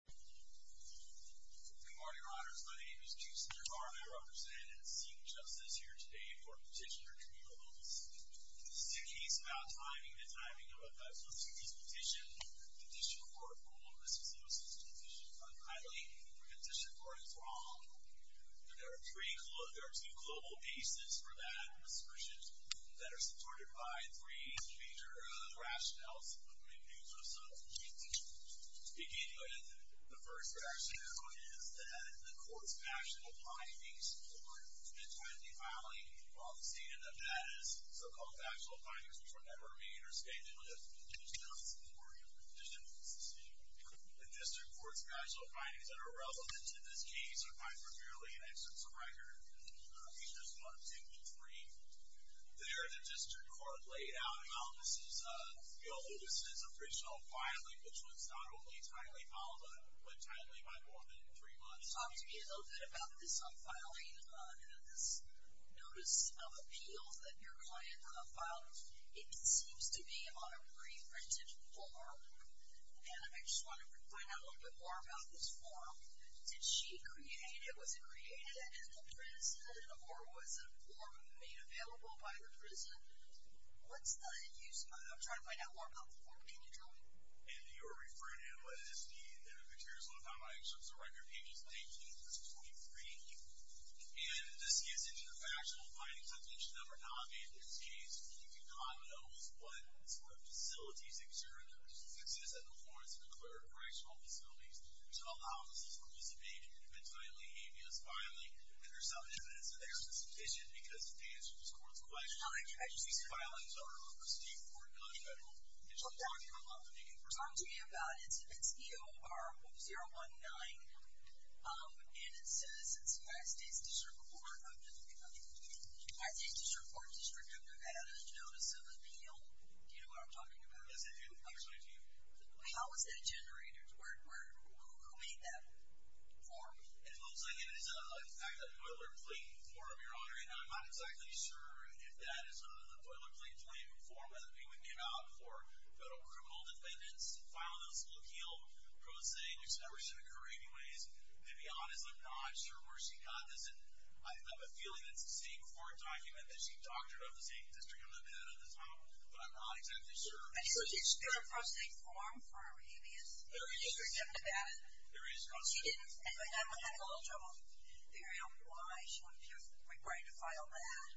Good morning, your honors. My name is Chief Senator Harmon. I represent and seek justice here today for petitioner Camille Lewis. This is a case about timing. The timing of a 5-plus years petition. The District Court ruled that Ms. Lewis' petition was unkindly and the District Court was wrong. There are two global cases for that prescription that are supported by three major rationales. I'm going to introduce myself. Beginning with the first rationale is that the court's factual findings support the timely filing of the State of Nevada's so-called factual findings, which will never be interstated with the District Court's summary of the petition. The District Court's factual findings that are relevant to this case are found premierly in Excerpts of Record. There's one, two, and three there that District Court laid out. Now, this is Camille Lewis' original filing, which was not only timely, but timely by more than three months. Talk to me a little bit about this unfiling, this notice of appeals that your client filed. It seems to be on a pre-printed form, and I just want to find out a little bit more about this form. Did she create it? Was it created at the prison, or was a form made available by the prison? What's the use of it? I'm trying to find out more about the form. Can you tell me? And you're referring to it as the materials on time by Excerpts of Record, pages 19 through 23. And this gets into the factual findings of the petition that were not made in this case. You cannot know what sort of facilities exist at the Florence and Eclair Correctional Facilities until the office is participating in an entirely aminous filing. And there's some evidence there in this petition because the answer to this court's question, these filings are for state court, not federal. Can you talk to me a little bit about that? It's EOR-019, and it says it's United States District Court. United States District Court, District of Nevada, notice of appeal. Do you know what I'm talking about? Yes, I do. How was that generated? Who made that form? It looks like it is a Toilet Plate form, Your Honor, and I'm not exactly sure if that is a Toilet Plate form that we would give out for federal criminal defendants. I'm not sure where she got this. I have a feeling it's the same court document that she doctored of the state district of Nevada at the time, but I'm not exactly sure. And so did you still have processing form for her habeas? There is processing form. And I'm having a little trouble figuring out why she would be required to file that.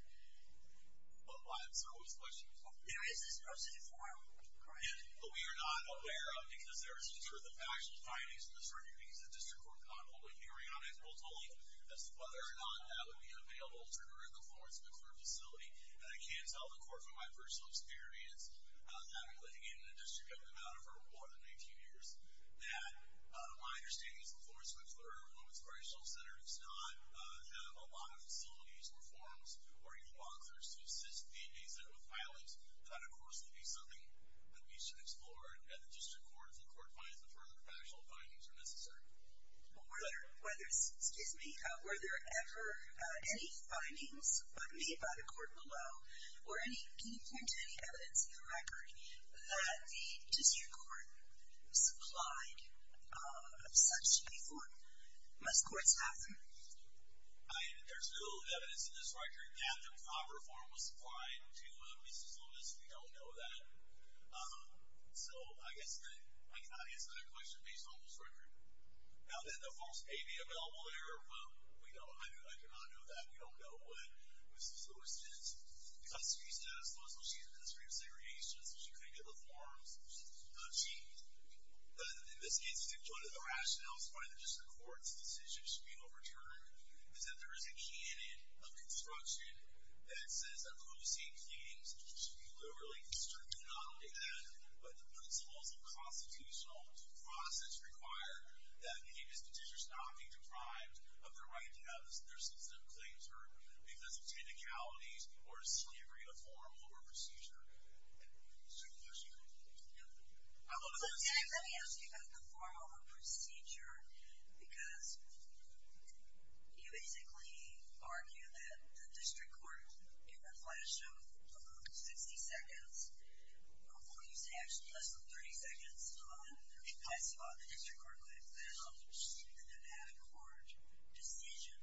I'm sorry, what was the question? There is this processing form, correct? Yes. But we are not aware of it because there is no truth of factual findings in the Surgery Visa District Court Convolution. Your Honor, I've been told that whether or not that would be available to her in the Florence McClure facility, and I can tell the court from my personal experience, having lived in the district of Nevada for more than 19 years, that my understanding is the Florence McClure Women's Critical Center does not have a lot of facilities or forms or even boxers to assist the visa with filings. That, of course, would be something that we should explore at the district court if the court finds that further factual findings are necessary. But were there ever any findings made by the court below, or can you point to any evidence in the record, that the district court supplied of such to be formed? Must courts have them? There's no evidence in this record that the proper form was supplied to Mrs. Lewis. We don't know that. So I guess that I cannot answer that question based on this record. Now, did the false pay be available to her? Well, we don't know. I do not know that. We don't know what Mrs. Lewis did. The custody status was that she was in the industry of segregation, so she couldn't get the forms achieved. In this instance, one of the rationales why the district court's decision should be overturned is that there is a canon of construction that says that policy and cleanings should be liberally distributed. We do not look at that. But the principles of constitutional process require that the district should not be deprived of the right to have their specific claims heard because of technicalities or slavery of formal or procedure. Sir, can I ask you a question? Yeah. Let me ask you about the formal or procedure, because you basically argue that the district court, in a flash of 60 seconds, or would you say actually less than 30 seconds, in my spot, the district court would have found in an ad hoc decision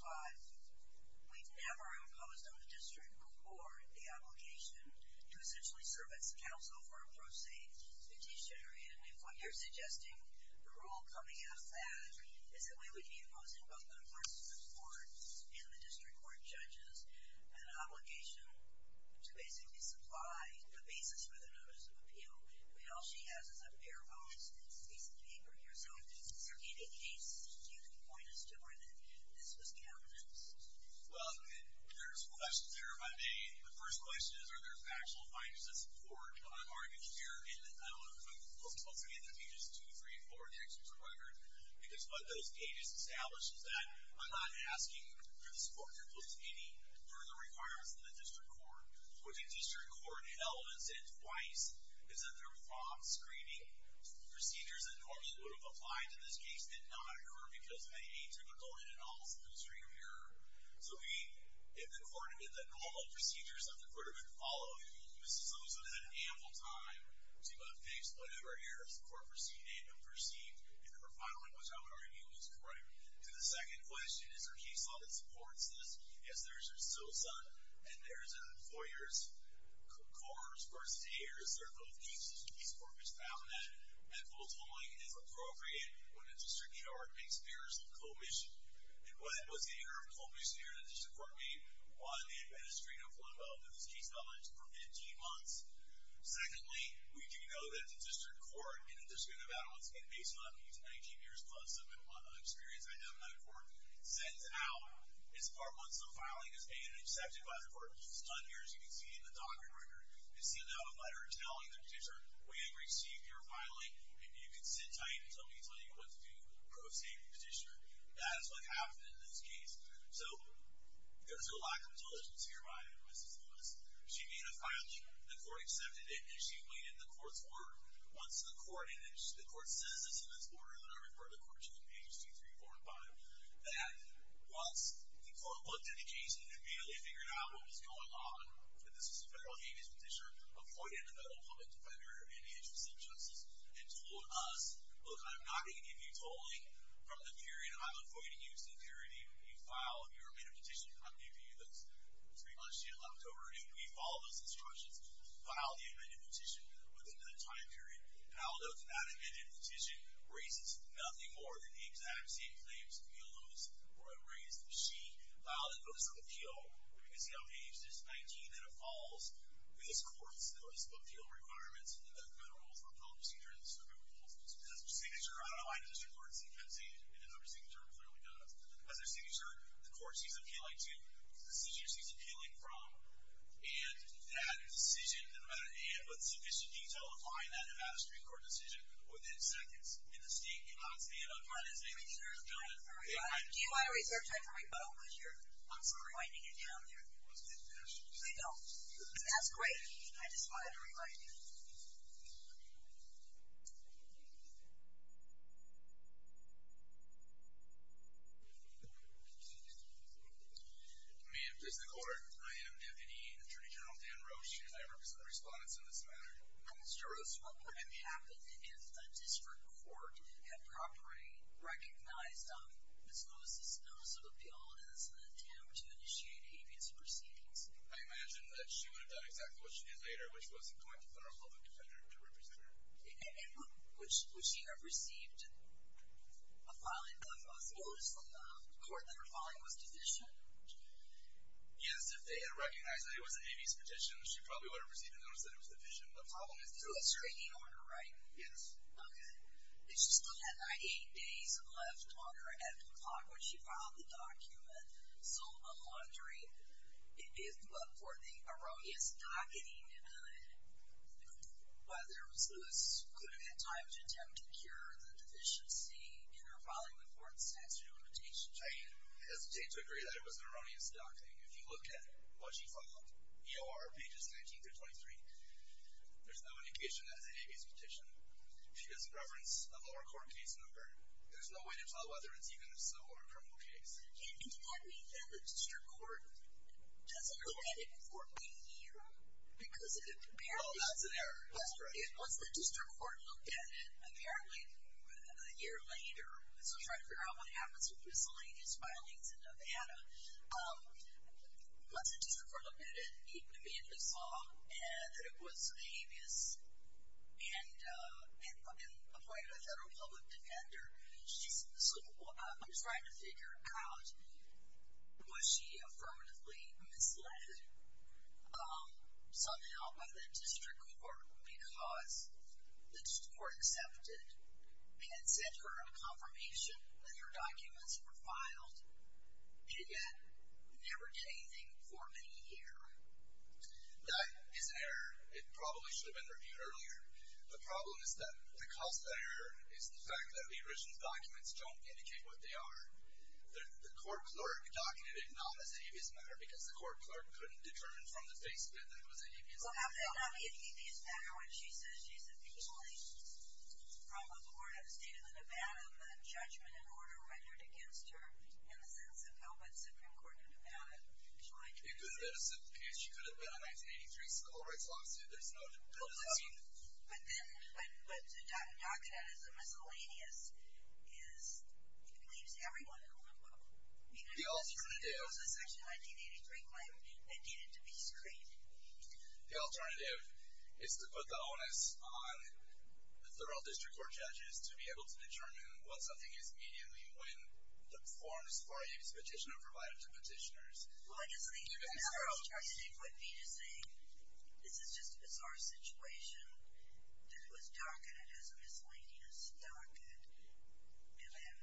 Five. We've never imposed on the district court the obligation to essentially serve as counsel for a pro se petitioner. And if what you're suggesting, the rule coming out of that, is that we would be imposing both on the persons of the court and the district court judges an obligation to basically supply the basis for the notice of appeal. I mean, all she has is a pair of arms and a piece of paper here. Sir, in a case, do you point us to where this was cabinets? Well, there's questions there, if I may. The first question is, are there factual findings of support that I'm arguing here? And I'm supposed to be in those pages two, three, four, six, or 500. Because what those pages establish is that I'm not asking for the support to impose any further requirements on the district court. What the district court held, and said twice, is that there were fraud screening procedures that courts would have applied to this case, did not occur because of any atypical in and of themselves stream of error. So if the court admitted that normal procedures of the court have been followed, Mrs. Sosa had ample time to have fixed whatever errors the court had perceived in her filing, which I would argue was correct. To the second question, is there a case law that supports this? Yes, there is, Mrs. Sosa. And there is a four years court versus eight years. Sir, both cases, this court has found that full time is appropriate when a district court makes errors of commission. And what was the error of commission that the district court made? One, they administered a flood valve in this case for 15 months. Secondly, we do know that the district court in the district of Adams, and based on these 19 years plus of experience I have in that court, sends out, it's part one, so filing is made and accepted by the court. It's done here as you can see in the docket record. It's sealed out by her telling the petitioner, we have received your filing, and you can sit tight until we tell you what to do, pro se, with the petitioner. That is what happened in this case. So there's a lack of diligence here by Mrs. Sosa. She made a filing, the court accepted it, and she weighed in the court's work. Once the court, and the court says this in this order that I referred the court to in pages 2, 3, 4, and 5, that once the court looked at the case and immediately figured out what was going on, and this was a federal habeas petitioner, appointed a federal public defender in the interest of justice, and told us, look, I'm not going to give you tolling from the period I'm appointing you. So in theory, you file your amended petition. I'm going to give you those three months you have left over. We follow those instructions. File the amended petition within that time period. Now, look, that amended petition raises nothing more than the exact same claims that Neil Lewis raised. She filed a notice of appeal. You can see how aged it is, 19, and it falls. These courts notice of appeal requirements, and they've got federal, federal procedure and the circuit rules. There's a signature. I don't know why the district court didn't have a signature, and the number signature clearly does. As a signature, the court sees appealing to, the decision sees appealing from, and that decision, no matter what sufficient detail, applying that to pass a district court decision within seconds. And the state cannot say, oh, fine, it's been adjourned. Do you want to re-search that for me? I'm sorry. I'm finding it down there. I don't. That's great. I just wanted to remind you. Thank you. Ma'am, this is the court. I am Deputy Attorney General Dan Roche, and I represent the respondents in this matter. Mr. Roche, what would have happened if a district court had properly recognized Ms. Lewis' notice of appeal as an attempt to initiate habeas proceedings? I imagine that she would have done exactly what she did later, which was appoint a federal public defender to represent her. And would she have received a filing of a notice from the court that her filing was deficient? Yes. If they had recognized that it was an habeas petition, she probably would have received a notice that it was deficient. The problem is there was a stringing order, right? Yes. Okay. And she still had, like, eight days left on her end of the clock when she filed the document. So I'm wondering if, or the erroneous docketing of it, whether Ms. Lewis could have had time to attempt to cure the deficiency in her filing of the court's statute of limitations. I hesitate to agree that it was an erroneous docketing. If you look at what she filed, EOR pages 19 through 23, there's no indication that it's a habeas petition. She has a preference of a lower court case number. There's no way to tell whether it's even a civil or a criminal case. And does that mean that the district court doesn't look at it for a year? Because it apparently – Oh, that's an error. That's right. Once the district court looked at it, apparently a year later, so trying to figure out what happens with miscellaneous filings in Nevada, once the district court looked at it, it immediately saw that it was habeas and appointed a federal public defender. I'm trying to figure out, was she affirmatively misled somehow by the district court because the district court accepted and sent her a confirmation that her documents were filed and yet never did anything for many years? That is an error. It probably should have been reviewed earlier. The problem is that the cause of that error is the fact that the original documents don't indicate what they are. The court clerk documented it not as a habeas matter because the court clerk couldn't determine from the face of it that it was a habeas matter. Well, how could it not be a habeas matter when she says she's appealing from a board of state of Nevada with a judgment in order rendered against her in the sense of how that Supreme Court of Nevada joined it? It could have been a civil case. She could have been a 1983 civil rights lawsuit. But the document that is miscellaneous leaves everyone in a limbo. The alternative is to put the onus on the federal district court judges to be able to determine what something is immediately when the forms for a habeas petition are provided to petitioners. Well, I guess the general strategic would be to say this is just a bizarre situation. This was documented as a miscellaneous document, and then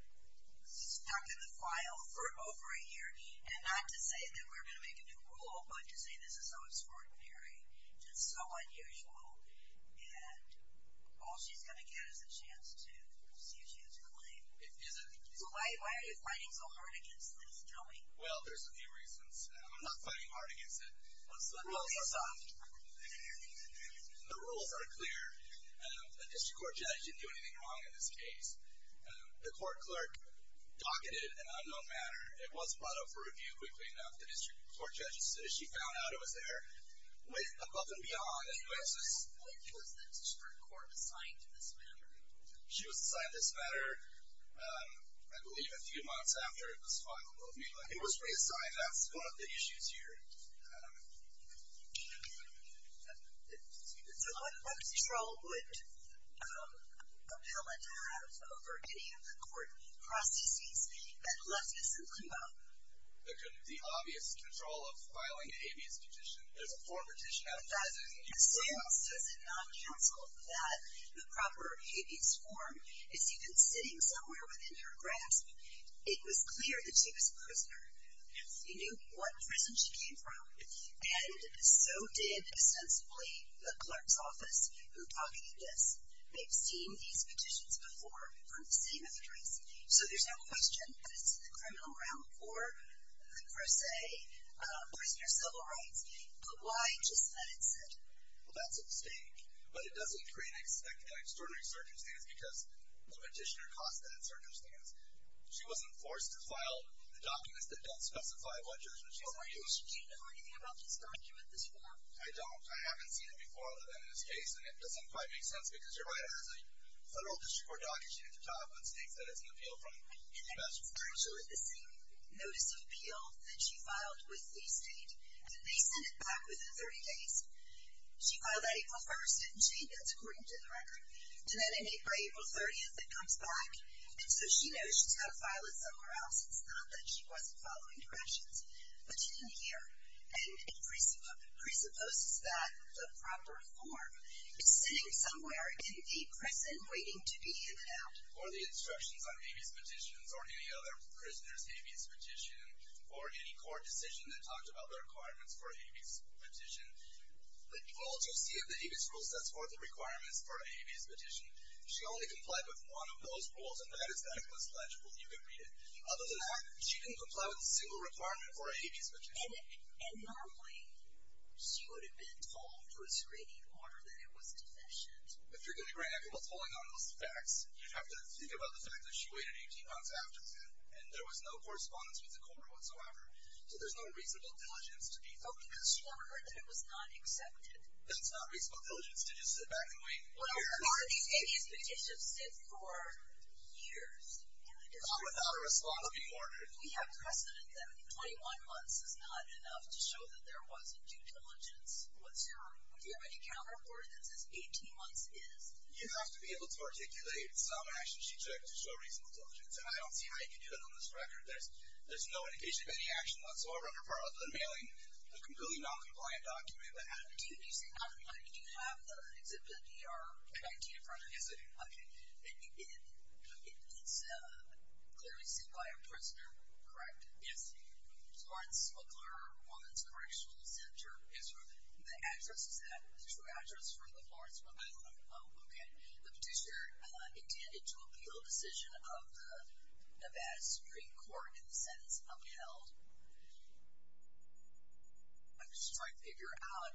stuck in the file for over a year, and not to say that we're going to make a new rule, but to say this is so extraordinary, just so unusual, and all she's going to get is a chance to see if she has a claim. Why are you fighting so hard against this? Tell me. Well, there's a few reasons. I'm not fighting hard against it. What's the reason? The rules are clear. A district court judge didn't do anything wrong in this case. The court clerk docketed an unknown matter. It wasn't brought up for review quickly enough. The district court judge, as soon as she found out it was there, went above and beyond. When was the district court assigned to this matter? She was assigned this matter, I believe, a few months after it was filed. It was reassigned. That's one of the issues here. So what control would appellate have over any of the court processes that left this to come up? The obvious control of filing a habeas petition. There's a form petition out of thousands. Does it not counsel that the proper habeas form is even sitting somewhere within your grasp? It was clear that she was a prisoner. You knew what prison she came from. And so did, ostensibly, the clerk's office, who docketed this. They've seen these petitions before from the same address. So there's no question that it's the criminal realm for, per se, prisoner civil rights. But why just that incentive? Well, that's a mistake. But it doesn't create an extraordinary circumstance because the petitioner costs that circumstance. She wasn't forced to file the documents that don't specify what jurisdiction she's on. Do you know anything about this document, this form? I don't. I haven't seen it before, other than in this case. And it doesn't quite make sense, because you're right. As a federal district court docket, you need to file a book of states that it's an appeal from. And I referred her to the same notice of appeal that she filed with the state. And they sent it back within 30 days. She filed that April 1st, didn't she? That's according to the record. And then in April, April 30th, it comes back. And so she knows she's got to file it somewhere else. It's not that she wasn't following directions. But she didn't hear. And it presupposes that the proper form is sitting somewhere in a prison waiting to be handed out. Or the instructions on Habeas Petitions, or any other prisoner's Habeas Petition, or any court decision that talked about the requirements for a Habeas Petition. All to see if the Habeas Rule sets forth the requirements for a Habeas Petition. She only complied with one of those rules. And that is that it was legible. You can read it. Other than that, she didn't comply with a single requirement for a Habeas Petition. And normally, she would have been told through a screening order that it was deficient. If you're going to bring up what's going on in those facts, you'd have to think about the fact that she waited 18 months after the end. And there was no correspondence with the court whatsoever. So there's no reasonable diligence to be focused on. Because she never heard that it was not accepted. That's not reasonable diligence to just sit back and wait. Well, our Habeas Petitions sit for years. Not without a response from the court. We have precedent that 21 months is not enough to show that there wasn't due diligence. Do you have any counter-report that says 18 months is? You have to be able to articulate some actions she took to show reasonable diligence. And I don't see how you can do that on this record. There's no indication of any action whatsoever on her part of unmailing a completely noncompliant document. Do you have the exhibit DR-19 in front of you? Yes, I do. Okay. It's clearly seen by a prisoner, correct? Florence McClure, Woman's Correctional Center. Yes, sir. And the address is that? The true address for the Florence McClure? Okay. The petitioner intended to appeal a decision of the Nevada Supreme Court in the sentence upheld. I'm just trying to figure out,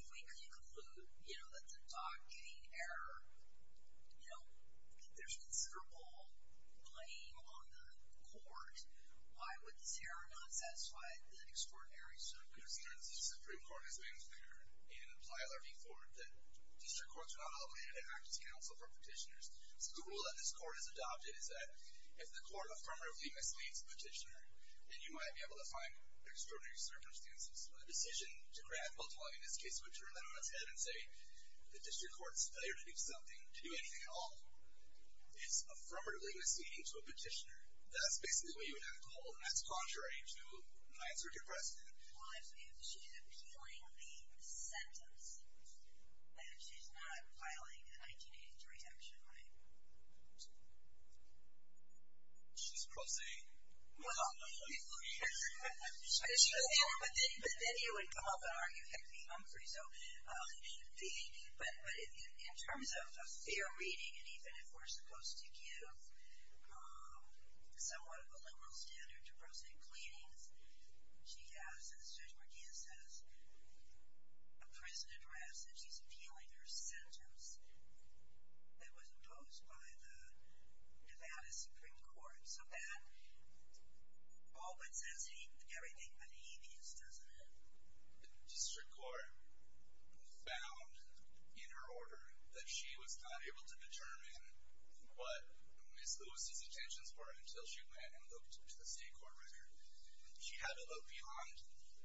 if we can conclude that the dog-kitting error, you know, that there's considerable blame on the court, why would this error not satisfy the extraordinary circumstances? In the words of the Supreme Court, as of April 3rd, and in the Plano v. Ford, that district courts are not allowed to have an advocacy council for petitioners. So the rule that this court has adopted is that if the court affirmatively misleads the petitioner, then you might be able to find extraordinary circumstances. A decision to grant a bill to a lawyer in this case would turn that on its head and say the district court's failure to do something, to do anything at all, is affirmatively misleading to a petitioner. That's basically what you would have to hold. And that's contrary to my answer to your question. If she's appealing the sentence, then she's not filing a 1983 action, right? She's prosaic. Well, but then you would come up and argue, hey, I'm free. But in terms of a fair reading, and even if we're supposed to give somewhat of a liberal standard to prosaic pleadings, she has, as Judge McGeehan says, a prison address, and she's appealing her sentence that was imposed by the Nevada Supreme Court. So that all but says everything but he means, doesn't it? The district court found in her order that she was not able to determine what Ms. Lewis's intentions were until she went and looked to the state court record. She had to look beyond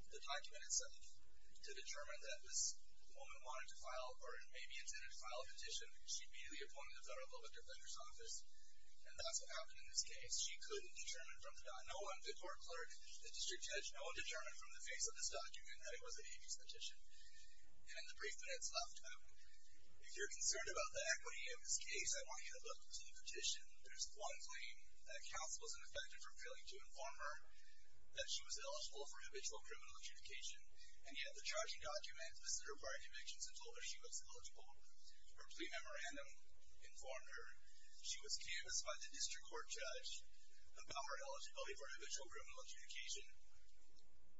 the document itself to determine that this woman wanted to file or maybe intended to file a petition. She immediately appointed the federal public defender's office, and that's what happened in this case. She couldn't determine from the document. No one, the court clerk, the district judge, no one determined from the face of this document that it was a hate speech petition. And the brief minutes left. If you're concerned about the equity of this case, I want you to look to the petition. There's one claim that counsel wasn't effective for failing to inform her that she was eligible for habitual criminal adjudication. And yet the charging document visited her prior convictions and told her she was eligible. Her plea memorandum informed her she was canvassed by the district court judge about her eligibility for habitual criminal adjudication.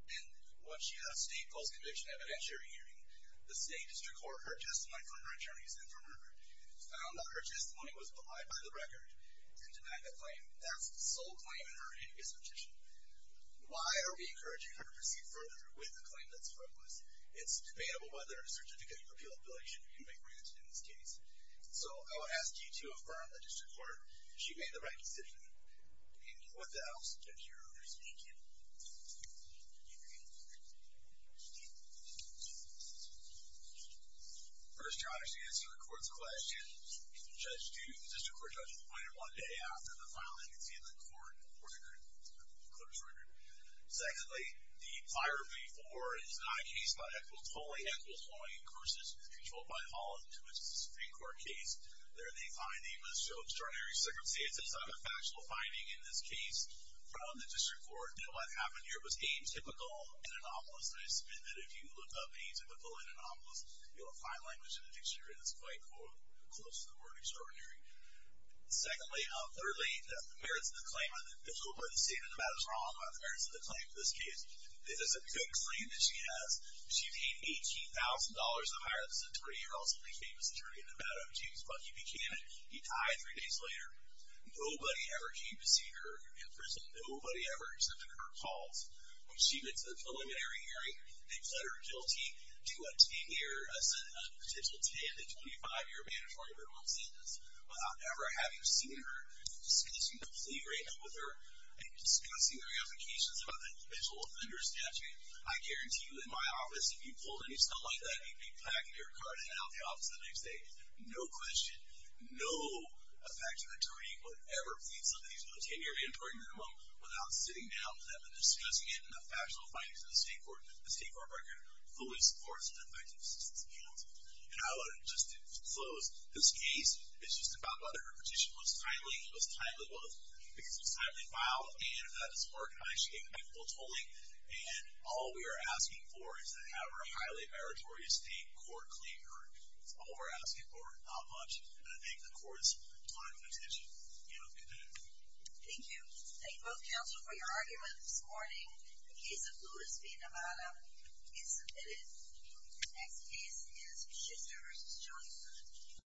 And when she had a state false conviction evidentiary hearing, the state district court heard testimony from her attorneys and from her found that her testimony was belied by the record and denied the claim. That's the sole claim in her hate speech petition. Why are we encouraging her to proceed further with a claim that's frivolous? It's debatable whether a certificate of repealability should be granted in this case. So I would ask you to affirm that the district court, she made the right decision. And with that, I'll stop here. Thank you. First, Josh, to answer the court's question, the district court judge appointed one day after the filing, as you can see in the court record, the clerk's record. Secondly, the prior plea for is not a case by Echols. Totally Echols, following in Cursa's control by Holland, which is a Supreme Court case. There, the finding was so extraordinary, circumstantial, it's not a factual finding in this case from the district court. What happened here was atypical and anomalous. And I submit that if you look up atypical and anomalous, you'll find language in the dictionary that's quite close to the word extraordinary. Secondly, thirdly, the merits of the claim, I hope I didn't say anything about this wrong, but the merits of the claim for this case, this is a good claim that she has. She paid $18,000 to hire this attorney, also a pretty famous attorney in Nevada, James Buckey Buchanan. He died three days later. Nobody ever came to see her in prison. Nobody ever accepted her calls. When she went to the preliminary hearing, they pled her guilty to a 10-year, a potential 10 to 25-year mandatory remand sentence. Without ever having seen her, discussing the plea right now with her, and discussing her implications about the individual offender statute, I guarantee you in my office, if you pulled any stuff like that, you'd be packing your car to head out of the office the next day. No question, no effective attorney would ever plead something to a 10-year mandatory remand without sitting down with them and discussing it, and the factual findings in the state court record fully supports an effective assistance account. And I would just close. This case is just about whether her petition was timely. It was timely because it was timely filed, and that it was organized. She came back full tolling, and all we are asking for is to have her highly meritorious state court claim heard. That's all we're asking for, not much. And I thank the court's time and attention. You know, good day. Thank you. Thank you both, counsel, for your arguments this morning. The case of Louis V. Nevada is submitted. The next case is Schitzer v. Jolly Good.